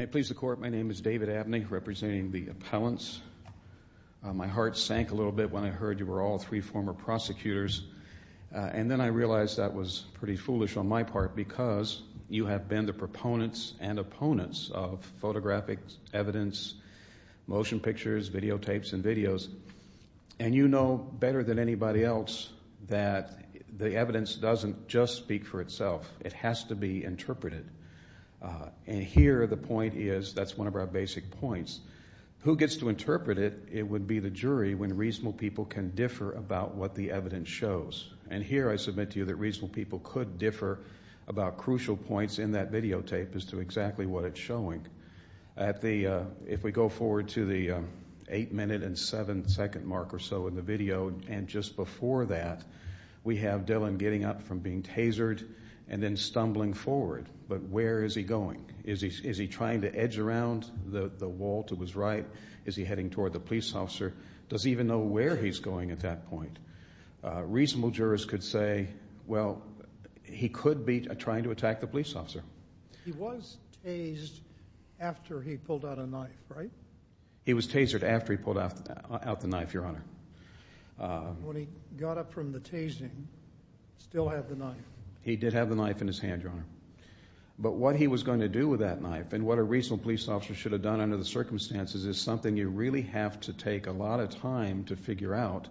May it please the Court, my name is David Abney, representing the appellants. My heart sank a little bit when I heard you were all three former prosecutors, and then I realized that was pretty foolish on my part, because you have been the proponents and opponents of photographic evidence, motion pictures, videotapes, and videos, and you know better than anybody else that the evidence doesn't just speak for itself. It has to be interpreted. And here the point is, that's one of our basic points, who gets to interpret it, it would be the jury when reasonable people can differ about what the evidence shows. And here I submit to you that reasonable people could differ about crucial points in that videotape as to exactly what it's showing. If we go forward to the eight minute and seven second mark or so in the video, and just before that, we have Dylan getting up from being tasered and then stumbling forward, but where is he going? Is he trying to edge around the wall to his right? Is he heading toward the police officer? Does he even know where he's going at that point? Reasonable jurors could say, well, he could be trying to attack the police officer. He was tasered after he pulled out a knife, right? He was tasered after he pulled out the knife, Your Honor. When he got up from the tasering, still had the knife. He did have the knife in his hand, Your Honor. But what he was going to do with that knife and what a reasonable police officer should have done under the circumstances is something you really have to take a lot of time to figure out.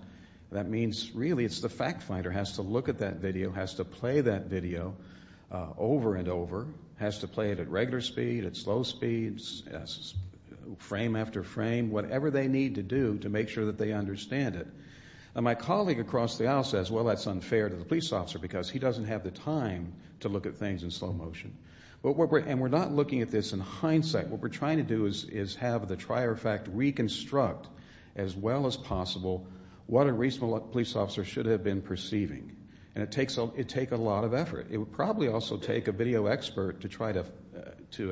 That means really it's the fact finder has to look at that video, has to play that video over and over, has to play it at regular speed, at slow speeds, frame after frame, whatever they need to do to make sure that they understand it. My colleague across the aisle says, well, that's unfair to the police officer because he doesn't have the time to look at things in slow motion. And we're not looking at this in hindsight. What we're trying to do is have the trier of fact reconstruct as well as possible what a reasonable police officer should have been perceiving. And it take a lot of effort. It would probably also take a video expert to try to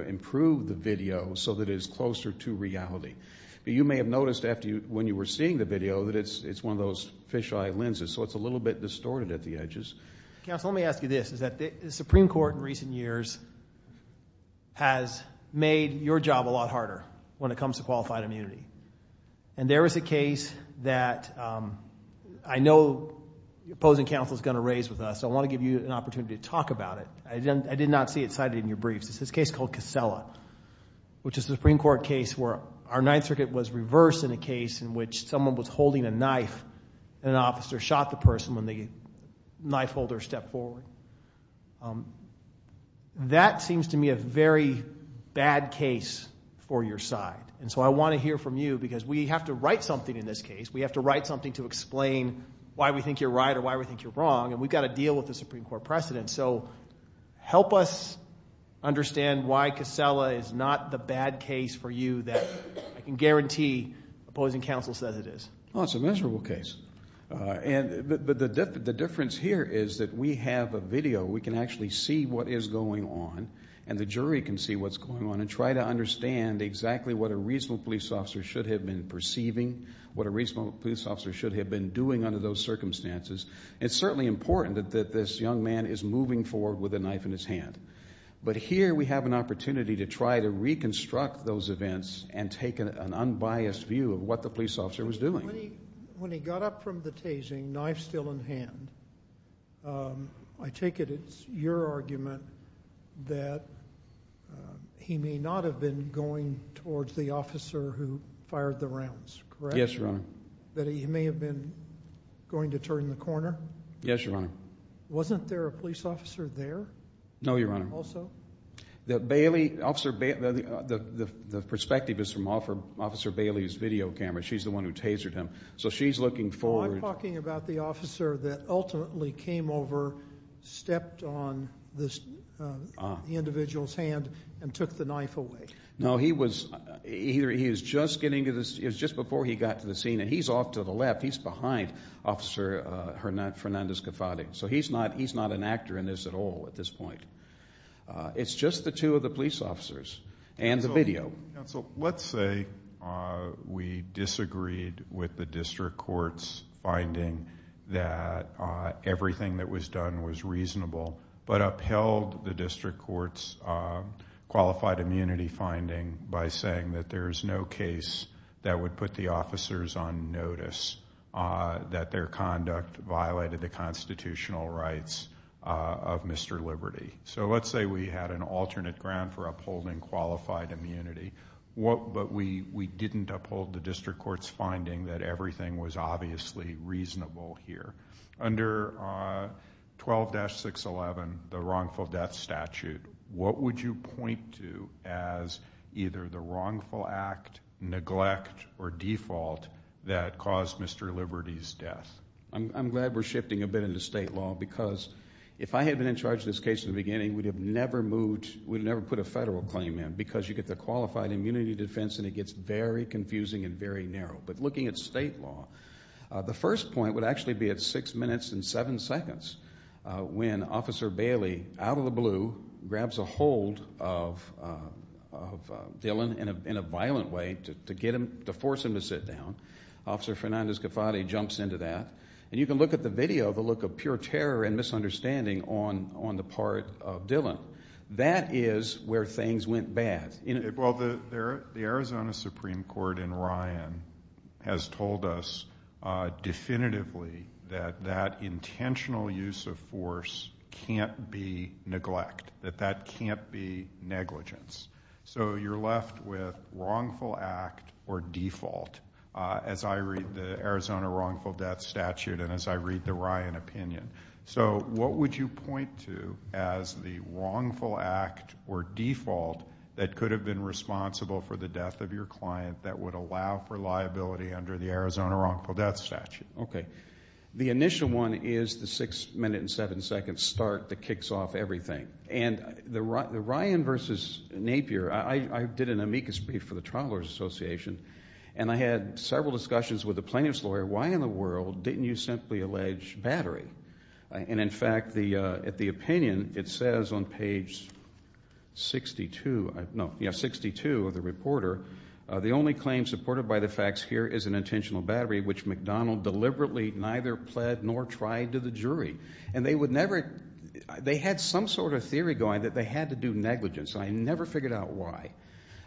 improve the video so that it is closer to reality. But you may have noticed when you were seeing the video that it's one of those fisheye lenses. So it's a little bit distorted at the edges. Counsel, let me ask you this. The Supreme Court in recent years has made your job a lot harder when it comes to qualified immunity. And there is a case that I know the opposing counsel is going to raise with us. I want to give you an opportunity to talk about it. I did not see it cited in your briefs. It's this case called Casella, which is a Supreme Court case where our Ninth Circuit was reversed in a case in which someone was holding a knife and an officer shot the person when the knife holder stepped forward. That seems to me a very bad case for your side. And so I want to hear from you because we have to write something in this case. We have to write something to explain why we think you're right or why we think you're wrong. And we've got to deal with the Supreme Court precedent. So help us understand why Casella is not the bad case for you that I can guarantee opposing counsel says it is. Well, it's a miserable case. But the difference here is that we have a video. We can actually see what is going on. And the jury can see what's going on and try to understand exactly what a reasonable police officer should have been perceiving, what a reasonable police officer should have been doing under those circumstances. It's certainly important that this young man is moving forward with a knife in his hand. But here we have an opportunity to try to reconstruct those events and take an unbiased view of what the police officer was doing. When he got up from the tasing, knife still in hand, I take it it's your argument that he may not have been going towards the officer who fired the rounds, correct? Yes, Your Honor. That he may have been going to turn the corner? Yes, Your Honor. Wasn't there a police officer there? No, Your Honor. Also? The Bailey, Officer Bailey, the perspective is from Officer Bailey's video camera. She's the one who tasered him. So she's looking forward. No, I'm talking about the officer that ultimately came over, stepped on this individual's hand and took the knife away. No, he was just before he got to the scene and he's off to the left. He's behind Officer Fernandez-Cafate. So he's not an actor in this at all at this point. It's just the two of the police officers and the video. Counsel, let's say we disagreed with the district court's finding that everything that was done was reasonable, but upheld the district court's qualified immunity finding by saying that there's no case that would put the officers on notice that their conduct violated the constitutional rights of Mr. Liberty. So let's say we had an alternate ground for upholding qualified immunity, but we didn't uphold the district court's finding that everything was 12-611, the wrongful death statute. What would you point to as either the wrongful act, neglect, or default that caused Mr. Liberty's death? I'm glad we're shifting a bit into state law because if I had been in charge of this case in the beginning, we'd have never put a federal claim in because you get the qualified immunity defense and it gets very confusing and very narrow. But looking at state law, the first point would actually be at six minutes and seven seconds when Officer Bailey, out of the blue, grabs a hold of Dillon in a violent way to force him to sit down. Officer Fernandez-Gafati jumps into that. And you can look at the video, the look of pure terror and misunderstanding on the part of Dillon. That is where things went bad. Well, the Arizona Supreme Court in Ryan has told us definitively that that intentional use of force can't be neglect, that that can't be negligence. So you're left with wrongful act or default, as I read the Arizona wrongful death statute and as I read the Ryan opinion. So what would you point to as the wrongful act or default that could have been responsible for the death of your client that would allow for liability under the Arizona wrongful death statute? Okay. The initial one is the six minute and seven second start that kicks off everything. And the Ryan versus Napier, I did an amicus brief for the Travelers Association and I had several discussions with the plaintiff's lawyer, why in the world didn't you simply allege battery? And in fact, at the opinion, it says on page 62 of the reporter, the only claim supported by the facts here is an intentional battery which McDonald deliberately neither pled nor tried to the jury. And they would never, they had some sort of theory going that they had to do negligence. I never figured out why.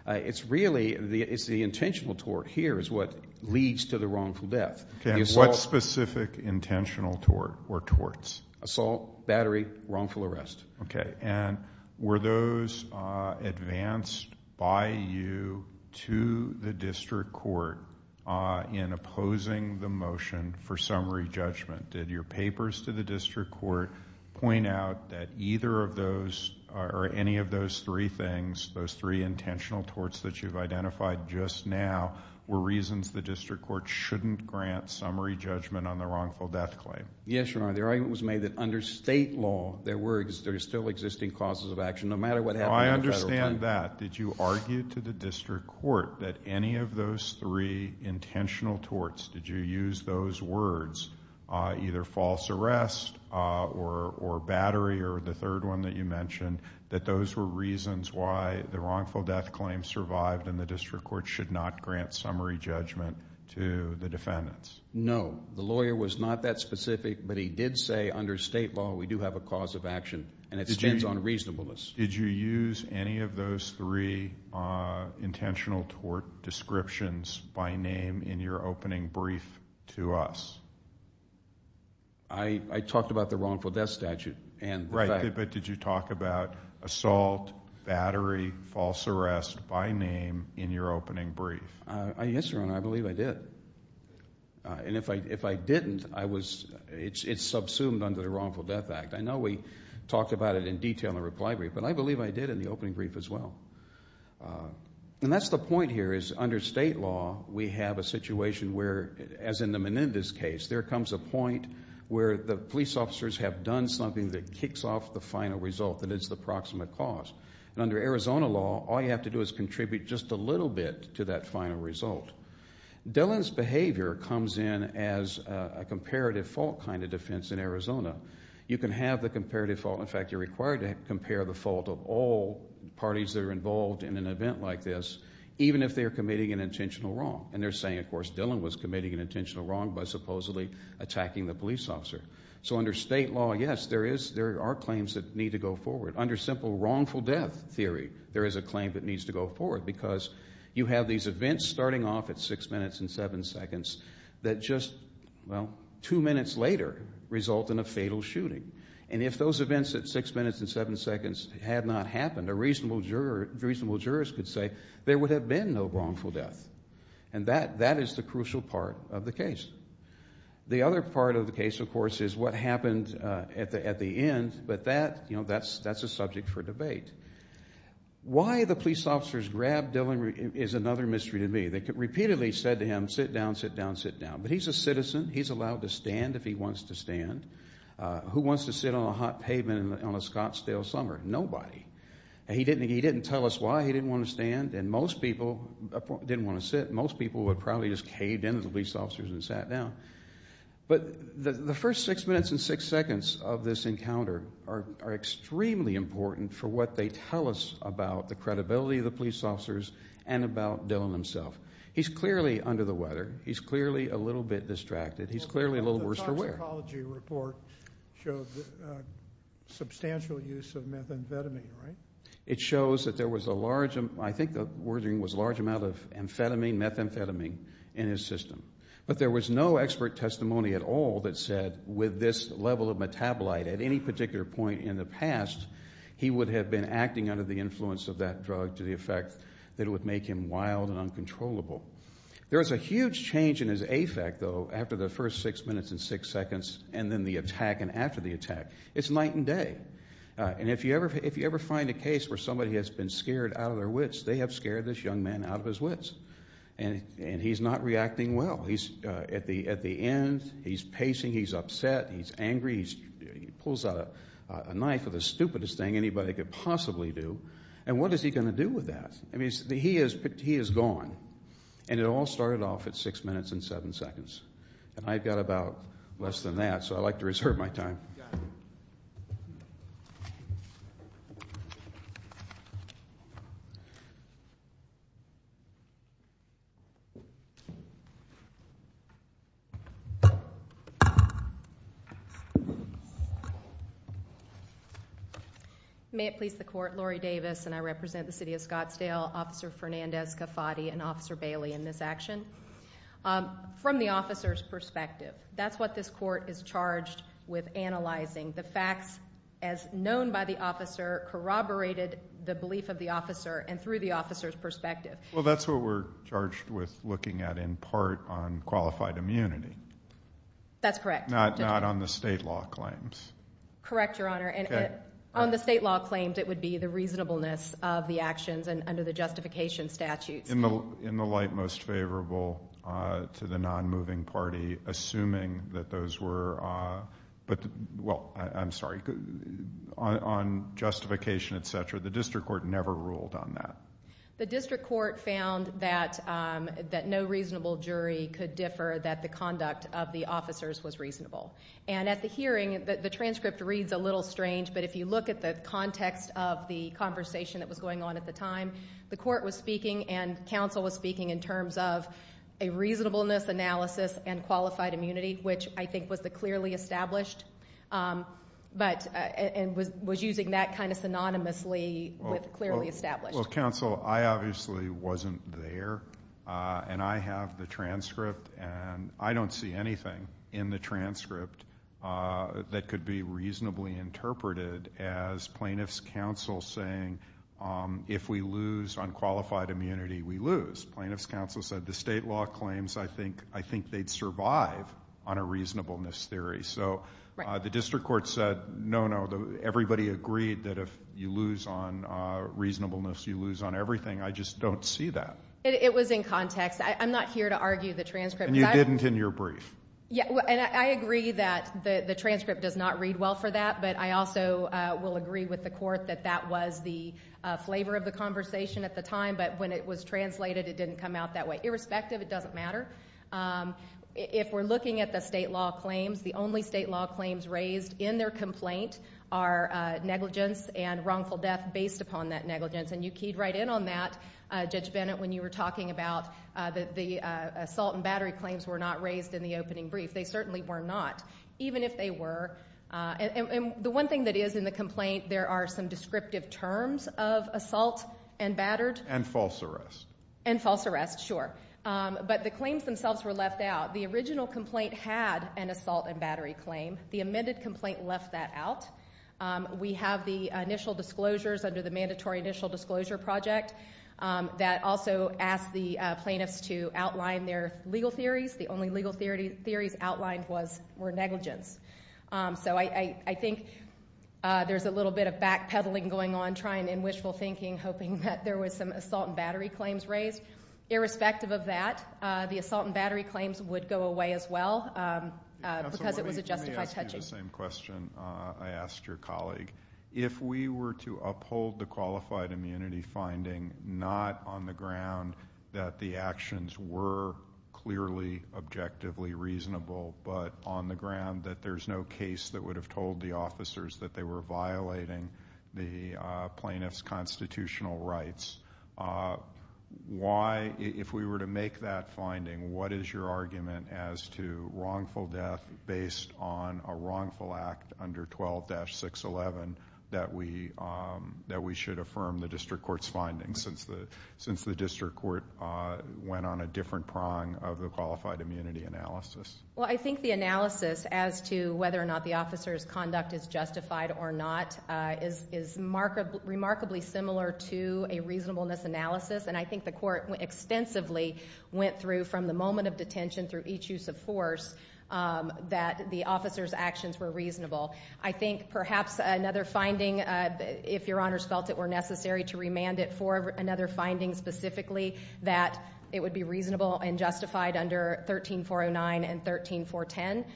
It's really, it's the intentional tort here is what leads to the wrongful death. Okay. And what specific intentional tort or torts? Assault, battery, wrongful arrest. Okay. And were those advanced by you to the district court in opposing the motion for summary judgment? Did your papers to the district court point out that either of those or any of those three things, those three intentional torts that you've identified just now were reasons the district court shouldn't grant summary judgment on the wrongful death claim? Yes, Your Honor. The argument was made that under state law, there were, there are still existing causes of action no matter what happened in federal court. I understand that. Did you argue to the district court that any of those three intentional torts, did you use those words, either false arrest or battery or the third one that you mentioned, that those were reasons why the wrongful death claim survived and the district court should not grant summary judgment to the defendants? No. The lawyer was not that specific, but he did say under state law, we do have a cause of action and it stands on reasonableness. Did you use any of those three intentional tort descriptions by name in your opening brief to us? I, I talked about the wrongful death statute. Right, but did you talk about assault, battery, false arrest by name in your opening brief? Yes, Your Honor, I believe I did. And if I didn't, I was, it's subsumed under the wrongful death act. I know we talked about it in detail in the reply brief, but I believe I did in the opening brief as well. And that's the point here is under state law, we have a situation where, as in the Menendez case, there comes a point where the police officers have done something that kicks off the final result, that it's the proximate cause. And under Arizona law, all you have to do is contribute just a little bit to that final result. Dillon's behavior comes in as a comparative fault kind of defense in Arizona. You can have the comparative fault, in fact, you're required to compare the fault of all parties that are involved in an event like this, even if they are committing an intentional wrong. And they're saying, of course, Dillon was committing an intentional wrong by supposedly attacking the police officer. So under state law, yes, there is, there are claims that need to go forward. Under simple wrongful death theory, there is a claim that needs to go forward because you have these events starting off at six minutes and seven seconds that just, well, two minutes later result in a fatal shooting. And if those events at six minutes and seven seconds had not happened, a reasonable juror, reasonable jurist could say there would have been no wrongful death. And that, that is the crucial part of the case. The other part of the case, of course, is what happened at the end, but that, you know, that's a subject for debate. Why the police officers grabbed Dillon is another mystery to me. They repeatedly said to him, sit down, sit down, sit down. But he's a citizen, he's allowed to stand if he wants to stand. Who wants to sit on a hot pavement on a Scottsdale summer? Nobody. He didn't tell us why he didn't want to stand, and most people didn't want to stand with the police officers and sat down. But the first six minutes and six seconds of this encounter are extremely important for what they tell us about the credibility of the police officers and about Dillon himself. He's clearly under the weather. He's clearly a little bit distracted. He's clearly a little worse for wear. The toxicology report showed substantial use of methamphetamine, right? It shows that there was a large, I think the wording was a large amount of amphetamine, methamphetamine, in his system. But there was no expert testimony at all that said with this level of metabolite at any particular point in the past, he would have been acting under the influence of that drug to the effect that it would make him wild and uncontrollable. There was a huge change in his affect, though, after the first six minutes and six seconds and then the attack and after the attack. It's night and day. And if you ever find a case where somebody has been scared out of their wits, they have scared this young man out of his wits. And he's not reacting well. He's at the end, he's pacing, he's upset, he's angry, he pulls out a knife with the stupidest thing anybody could possibly do. And what is he going to do with that? I mean, he is gone. And it all started off at six minutes and seven seconds. And I've got about less than that, so I'd like to reserve my Got it. May it please the Court, Laurie Davis, and I represent the City of Scottsdale, Officer Fernandez-Cafati and Officer Bailey in this action. From the officer's perspective, that's what this Court is charged with analyzing. The facts, as known by the officer, corroborated the belief of the officer and through the officer's perspective. Well, that's what we're charged with looking at in part on qualified immunity. That's correct. Not on the state law claims. Correct, Your Honor. And on the state law claims, it would be the reasonableness of the actions and under the justification statutes. In the light most favorable to the non-moving party, assuming that those were, well, I'm sorry, on justification, et cetera, the district court never ruled on that. The district court found that no reasonable jury could differ, that the conduct of the officers was reasonable. And at the hearing, the transcript reads a little strange, but if you look at the context of the conversation that was going on at the time, the court was speaking in terms of a reasonableness analysis and qualified immunity, which I think was the clearly established, but was using that kind of synonymously with clearly established. Well, counsel, I obviously wasn't there, and I have the transcript, and I don't see anything in the transcript that could be reasonably interpreted as plaintiff's counsel saying if we lose on qualified immunity, we lose. Plaintiff's counsel said the state law claims, I think they'd survive on a reasonableness theory. So the district court said, no, no, everybody agreed that if you lose on reasonableness, you lose on everything. I just don't see that. It was in context. I'm not here to argue the transcript. And you didn't in your brief. Yeah, and I agree that the transcript does not read well for that, but I also will agree with the court that that was the flavor of the conversation at the time, but when it was translated, it didn't come out that way. Irrespective, it doesn't matter. If we're looking at the state law claims, the only state law claims raised in their complaint are negligence and wrongful death based upon that negligence, and you keyed right in on that, Judge Bennett, when you were talking about the assault and battery claims were not raised in the opening brief. They certainly were not, even if they were. And the one thing that is in the complaint, there are some descriptive terms of assault and battered. And false arrest. And false arrest, sure. But the claims themselves were left out. The original complaint had an assault and battery claim. The amended complaint left that out. We have the initial disclosures under the mandatory initial disclosure project that also asked the plaintiffs to I think there's a little bit of backpedaling going on, trying and wishful thinking, hoping that there was some assault and battery claims raised. Irrespective of that, the assault and battery claims would go away as well because it was a justified touching. Let me ask you the same question I asked your colleague. If we were to uphold the qualified immunity finding, not on the ground that the actions were clearly objectively reasonable, but on the ground that there's no case that would have told the officers that they were violating the plaintiff's constitutional rights, why, if we were to make that finding, what is your argument as to wrongful death based on a wrongful act under 12-611 that we should affirm the district court's findings since the district court went on a different prong of the qualified immunity analysis? Well, I think the analysis as to whether or not the officer's conduct is justified or not is remarkably similar to a reasonableness analysis. And I think the court extensively went through from the moment of detention through each use of force that the officer's actions were reasonable. I think perhaps another finding, if your honors felt it were necessary to remand it for another finding specifically, that it would be reasonable and justified under 13-409 and 13-410.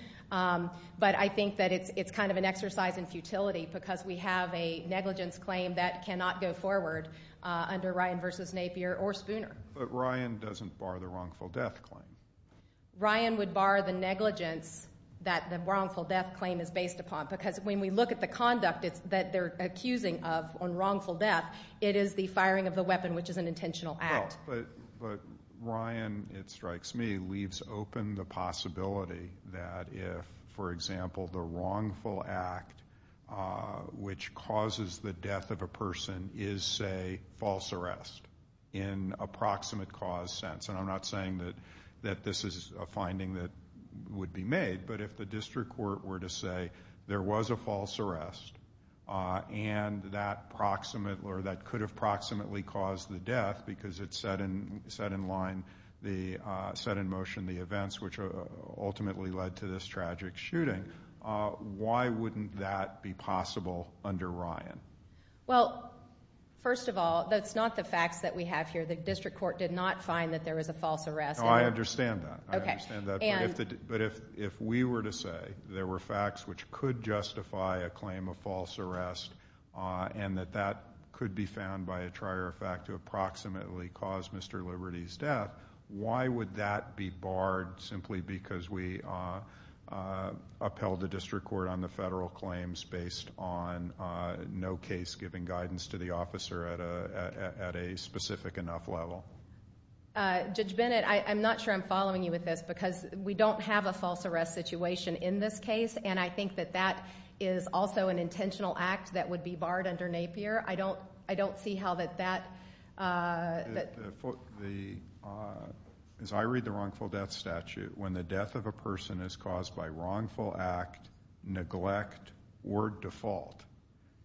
But I think that it's kind of an exercise in futility because we have a negligence claim that cannot go forward under Ryan v. Napier or Spooner. But Ryan doesn't bar the wrongful death claim. Ryan would bar the negligence that the wrongful death claim is based upon because when we look at the conduct that they're accusing of on wrongful death, it is the firing of the weapon, which is an intentional act. Well, but Ryan, it strikes me, leaves open the possibility that if, for example, the wrongful act which causes the death of a person is, say, false arrest in a proximate cause sense. And I'm not saying that this is a finding that would be made, but if the district court were to say there was a false arrest and that could have proximately caused the death because it set in line the, set in motion the events which ultimately led to this tragic shooting, why wouldn't that be possible under Ryan? Well, first of all, that's not the facts that we have here. The district court did not find that there was a false arrest. No, I understand that. I understand that. Okay. And But if we were to say there were facts which could justify a claim of false arrest and that that could be found by a trier of fact to approximately cause Mr. Liberty's death, why would that be barred simply because we upheld the district court on the federal claims based on no case giving guidance to the officer at a specific enough level? Judge Bennett, I'm not sure I'm following you with this because we don't have a false arrest situation in this case, and I think that that is also an intentional act that would be barred under Napier. I don't see how that that The, as I read the wrongful death statute, when the death of a person is caused by wrongful act, neglect, or default,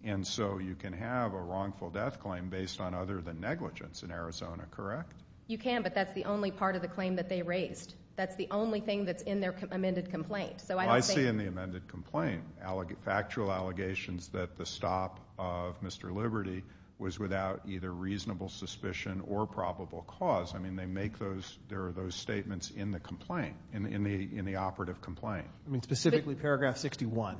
and so you can have a wrongful death claim based on other than negligence in Arizona, correct? You can, but that's the only part of the claim that they raised. That's the only thing that's in their amended complaint. So I don't think factual allegations that the stop of Mr. Liberty was without either reasonable suspicion or probable cause. I mean, they make those, there are those statements in the complaint, in the operative complaint. I mean, specifically paragraph 61.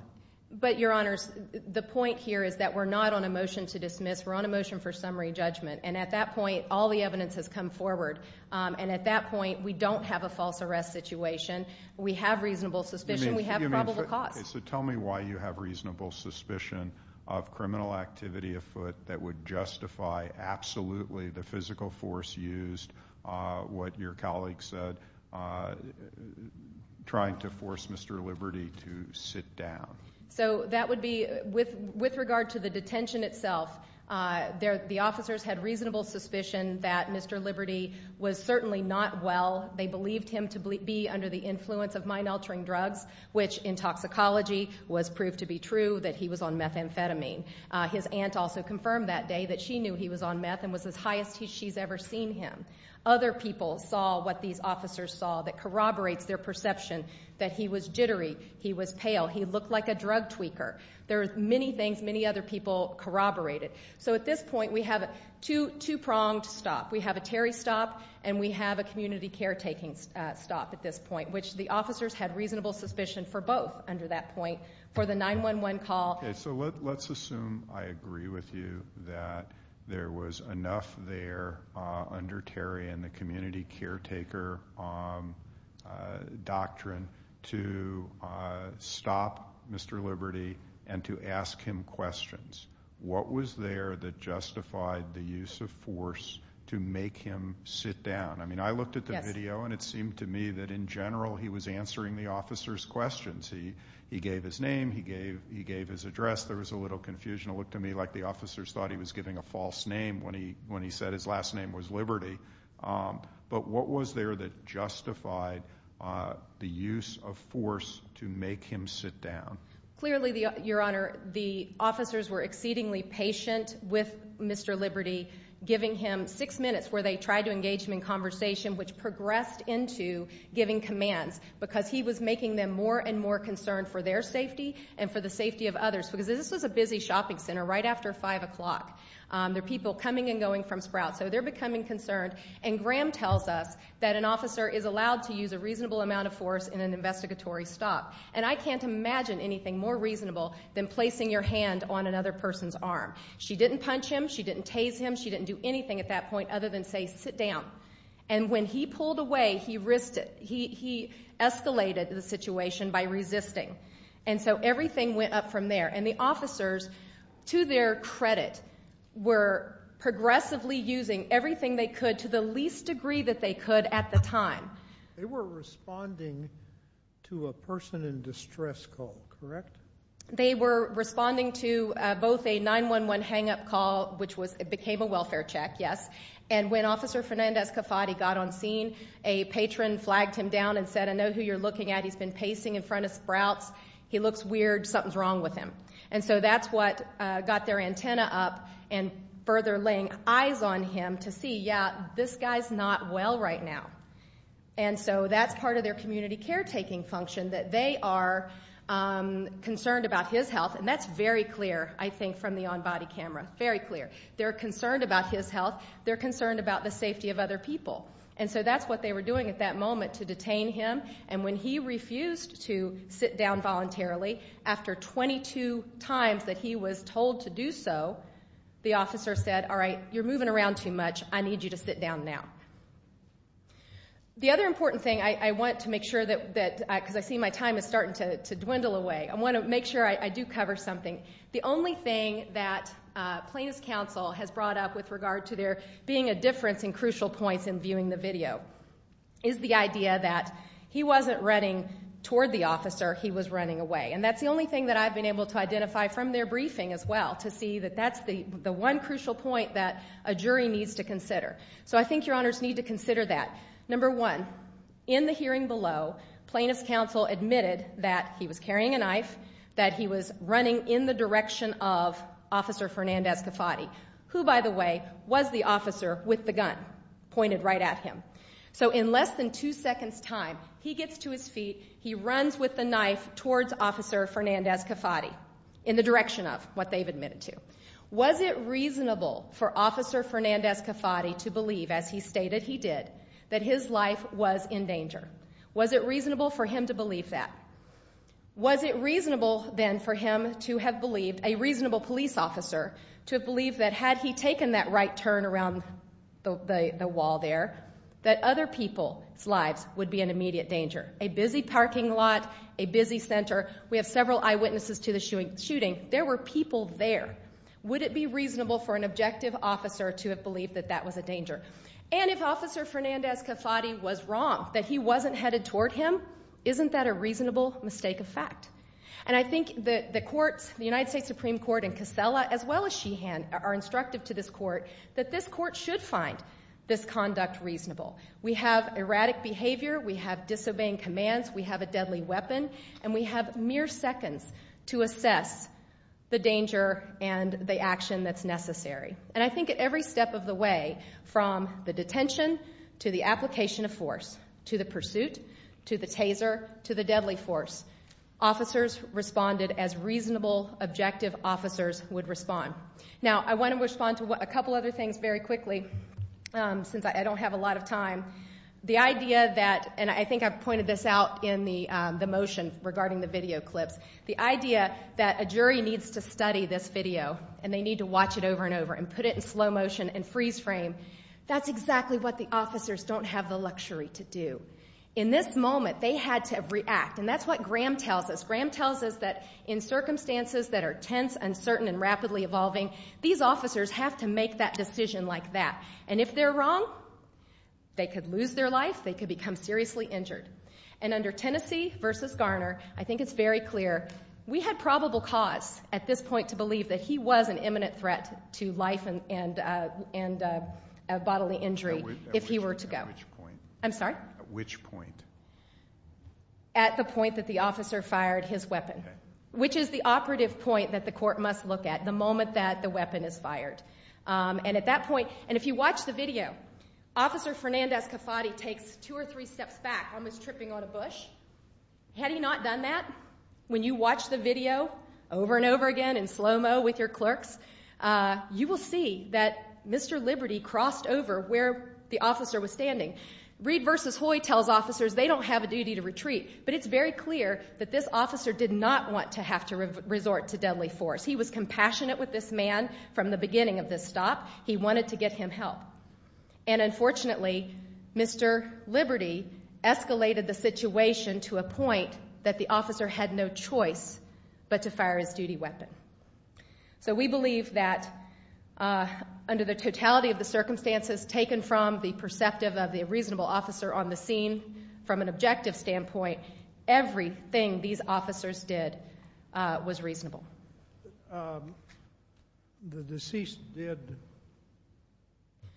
But, Your Honors, the point here is that we're not on a motion to dismiss. We're on a motion for summary judgment, and at that point, all the evidence has come forward, and at that point, we don't have a false arrest situation. We have reasonable suspicion. We have probable cause. So tell me why you have reasonable suspicion of criminal activity afoot that would justify absolutely the physical force used, what your colleague said, trying to force Mr. Liberty to sit down. So that would be, with regard to the detention itself, the officers had reasonable suspicion that Mr. Liberty was certainly not well. They believed him to be under the influence of which, in toxicology, was proved to be true that he was on methamphetamine. His aunt also confirmed that day that she knew he was on meth and was as high as she's ever seen him. Other people saw what these officers saw that corroborates their perception that he was jittery, he was pale, he looked like a drug tweaker. There are many things, many other people corroborated. So at this point, we have a two-pronged stop. We have a Terry stop, and we have a community caretaking stop at this point, which the officers had reasonable suspicion for both under that point for the 911 call. Okay, so let's assume I agree with you that there was enough there under Terry and the community caretaker doctrine to stop Mr. Liberty and to ask him questions. What was there that justified the use of force to make him sit down? I mean, I looked at the video, and it seemed to me that, in general, he was answering the officers' questions. He gave his name, he gave his address. There was a little confusion. It looked to me like the officers thought he was giving a false name when he said his last name was Liberty. But what was there that justified the use of force to make him sit down? Clearly, Your Honor, the officers were exceedingly patient with Mr. Liberty, giving him six minutes where they tried to engage him in conversation, which progressed into giving commands, because he was making them more and more concerned for their safety and for the safety of others. Because this was a busy shopping center right after 5 o'clock. There are people coming and going from Sprout, so they're becoming concerned. And Graham tells us that an officer is allowed to use a reasonable amount of force in an investigatory stop. And I can't imagine anything more reasonable than placing your hand on another person's arm. She didn't punch him. She didn't tase him. She didn't do anything at that point other than say, sit down. And when he pulled away, he risked it. He escalated the situation by resisting. And so everything went up from there. And the officers, to their credit, were progressively using everything they could to the least degree that they could at the time. They were responding to a person in distress call, correct? They were responding to both a 911 hang-up call, which became a welfare check, yes. And when Officer Fernandez-Cafati got on scene, a patron flagged him down and said, I know who you're looking at. He's been pacing in front of Sprouts. He looks weird. Something's wrong with him. And so that's what got their antenna up and further laying eyes on him to see, yeah, this guy's not well right now. And so that's part of their community caretaking function, that they are concerned about his health. And that's very clear, I think, from the on-body camera, very clear. They're concerned about his health. They're concerned about the safety of other people. And so that's what they were doing at that moment to detain him. And when he refused to sit down voluntarily, after 22 times that he was told to do so, the officer said, all right, you're moving around too much. I need you to sit down now. The other important thing I want to make sure that, because I see my time is starting to dwindle away, I want to make sure I do cover something. The only thing that Plaintiff's Counsel has brought up with regard to there being a difference in crucial points in viewing the video is the idea that he wasn't running toward the officer. He was running away. And that's the only thing that I've been able to identify from their briefing as well, to see that that's the one crucial point that a jury needs to consider. So I think Your Honors need to consider that. Number one, in the hearing below, Plaintiff's Counsel admitted that he was carrying a knife, that he was running in the direction of Officer Fernandez-Cafati, who, by the way, was the officer with the gun pointed right at him. So in less than two seconds' time, he gets to his feet, he runs with the knife towards Officer Fernandez-Cafati in the direction of what they've admitted to. Was it reasonable for Officer Fernandez-Cafati to believe, as he stated he did, that his life was in danger? Was it reasonable for him to believe that? Was it reasonable, then, for him to have believed, a reasonable police officer, to have believed that had he taken that right turn around the wall there, that other people's lives would be in immediate danger? A busy parking lot, a busy center. We have several eyewitnesses to the shooting. There were people there. Would it be reasonable for an objective officer to have believed that that was a danger? And if Officer Fernandez-Cafati was wrong, that he wasn't headed toward him, isn't that a reasonable mistake of fact? And I think the courts, the United States Supreme Court and Casella, as well as Sheehan, are instructive to this court that this court should find this conduct reasonable. We have erratic behavior. We have disobeying commands. We have a deadly weapon. And we have mere seconds to assess the danger and the action that's necessary. And I think at every step of the way, from the detention to the application of force, to the pursuit, to the taser, to the deadly force, officers responded as reasonable, objective officers would respond. Now, I want to respond to a couple other things very quickly since I don't have a lot of time. The idea that, and I think I pointed this out in the motion regarding the video clips, the idea that a jury needs to study this video and they need to watch it over and over and put it in slow motion and freeze frame, that's exactly what the officers don't have the luxury to do. In this moment, they had to react. And that's what Graham tells us. Graham tells us that in circumstances that are tense, uncertain, and rapidly evolving, these officers have to make that decision like that. And if they're wrong, they could lose their life. They could become seriously injured. And under Tennessee v. Garner, I think it's very clear, we had probable cause at this point to believe that he was an imminent threat to life and bodily injury if he were to go. At which point? I'm sorry? At which point? At the point that the officer fired his weapon, which is the operative point that the court must look at the moment that the weapon is fired. And at that point, and if you watch the video, Officer Fernandez-Cafati takes two or three steps back almost tripping on a bush. Had he not done that, when you watch the video over and over again in slow-mo with your clerks, you will see that Mr. Liberty crossed over where the officer was standing. Reid v. Hoy tells officers they don't have a duty to retreat, but it's very clear that this officer did not want to have to resort to deadly force. He was compassionate with this man from the beginning of this stop. He wanted to get him help. And unfortunately, Mr. Liberty escalated the situation to a point that the officer had no choice but to fire his duty weapon. So we believe that under the totality of the circumstances taken from the perceptive of the reasonable officer on the scene, from an objective standpoint, everything these officers did was reasonable. The deceased did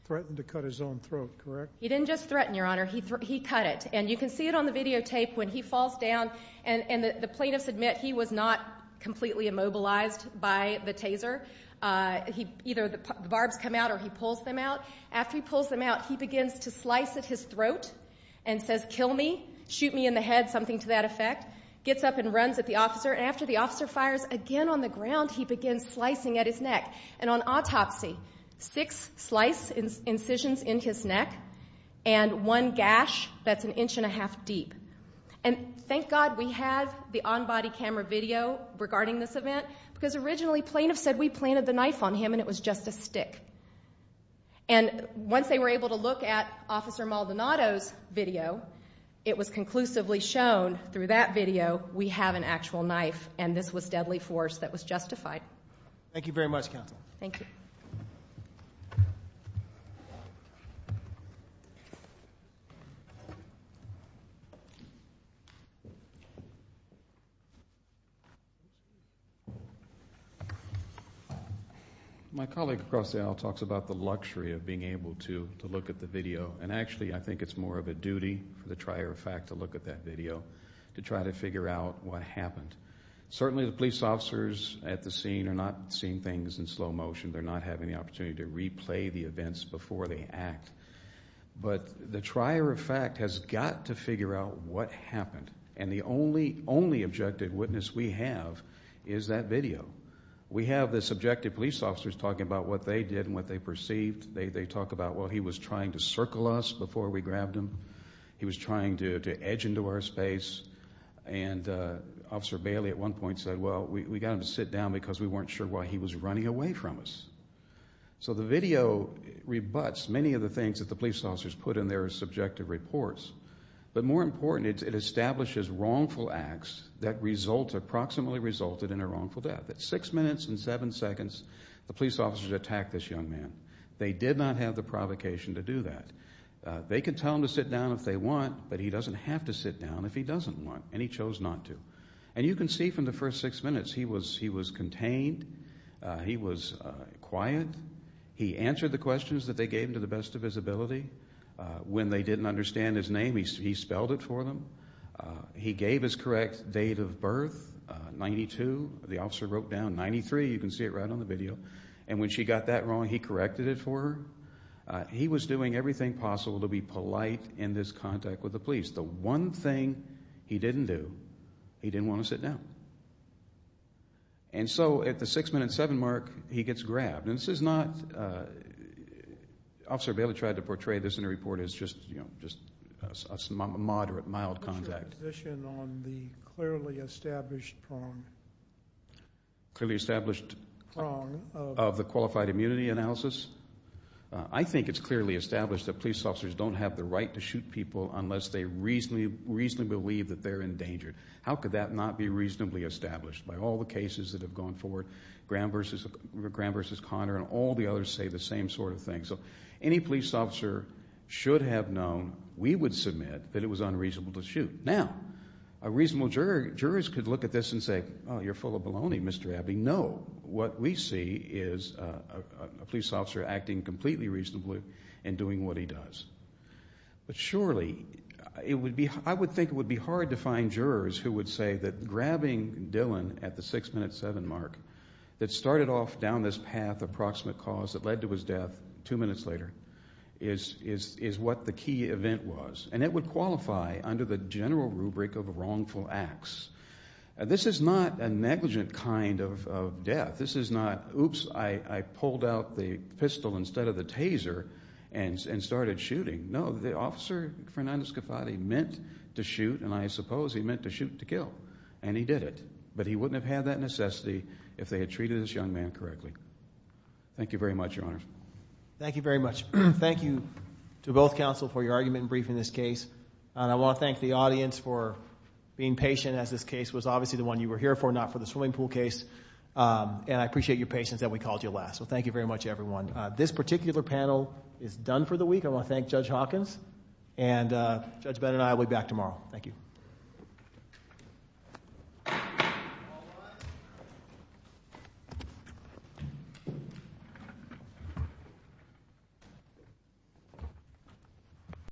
threaten to cut his own throat, correct? He didn't just threaten, Your Honor. He cut it. And you can see it on the videotape when he falls down. And the plaintiffs admit he was not completely immobilized by the taser. Either the barbs come out or he pulls them out. After he pulls them out, he begins to slice at his throat and says, kill me, shoot me in the head, something to that effect, gets up and runs at the officer. And after the officer fires again on the ground, he begins slicing at his neck. And on autopsy, six slice incisions in his neck and one gash that's an inch and a half deep. And thank God we have the on-body camera video regarding this event, because originally plaintiffs said we planted the knife on him and it was just a stick. And once they were able to look at Officer Maldonado's video, it was conclusively shown through that video we have an actual knife, and this was deadly force that was justified. Thank you very much, Counsel. Thank you. My colleague, Grossel, talks about the luxury of being able to look at the video. And actually I think it's more of a duty for the trier of fact to look at that video to try to figure out what happened. Certainly the police officers at the scene are not seeing things in slow motion. They're not having the opportunity to replay the events before they act. But the trier of fact has got to figure out what happened. And the only objective witness we have is that video. We have the subjective police officers talking about what they did and what they perceived. They talk about, well, he was trying to circle us before we grabbed him. He was trying to edge into our space. And Officer Bailey at one point said, well, we got him to sit down because we weren't sure why he was running away from us. So the video rebuts many of the things that the police officers put in their subjective reports. But more important, it establishes wrongful acts that approximately resulted in a wrongful death. At six minutes and seven seconds, the police officers attacked this young man. They did not have the provocation to do that. They can tell him to sit down if they want, but he doesn't have to sit down if he doesn't want, and he chose not to. And you can see from the first six minutes he was contained, he was quiet, he answered the questions that they gave him to the best of his ability. When they didn't understand his name, he spelled it for them. He gave his correct date of birth, 92. The officer wrote down 93. You can see it right on the video. And when she got that wrong, he corrected it for her. He was doing everything possible to be polite in this contact with the police. The one thing he didn't do, he didn't want to sit down. And so at the six minute, seven mark, he gets grabbed. And this is not, Officer Bailey tried to portray this in a report as just a moderate, mild contact. Do you have a position on the clearly established prong? Clearly established prong of the qualified immunity analysis? I think it's clearly established that police officers don't have the right to shoot people unless they reasonably believe that they're endangered. How could that not be reasonably established? By all the cases that have gone forward, Graham v. Conner and all the others say the same sort of thing. So any police officer should have known, we would submit, that it was unreasonable to shoot. Now, a reasonable juror could look at this and say, oh, you're full of baloney, Mr. Abbey. No, what we see is a police officer acting completely reasonably and doing what he does. But surely, I would think it would be hard to find jurors who would say that grabbing Dylan at the six minute, seven mark, that started off down this path of proximate cause that led to his death two minutes later is what the key event was. And it would qualify under the general rubric of wrongful acts. This is not a negligent kind of death. This is not, oops, I pulled out the pistol instead of the taser and started shooting. No, the officer, Fernando Scafatti, meant to shoot, and I suppose he meant to shoot to kill, and he did it. But he wouldn't have had that necessity if they had treated this young man correctly. Thank you very much, Your Honors. Thank you very much. Thank you to both counsel for your argument in briefing this case. And I want to thank the audience for being patient as this case was obviously the one you were here for, not for the swimming pool case. And I appreciate your patience that we called you last. So thank you very much, everyone. This particular panel is done for the week. I want to thank Judge Hawkins, and Judge Bennett and I will be back tomorrow. Thank you.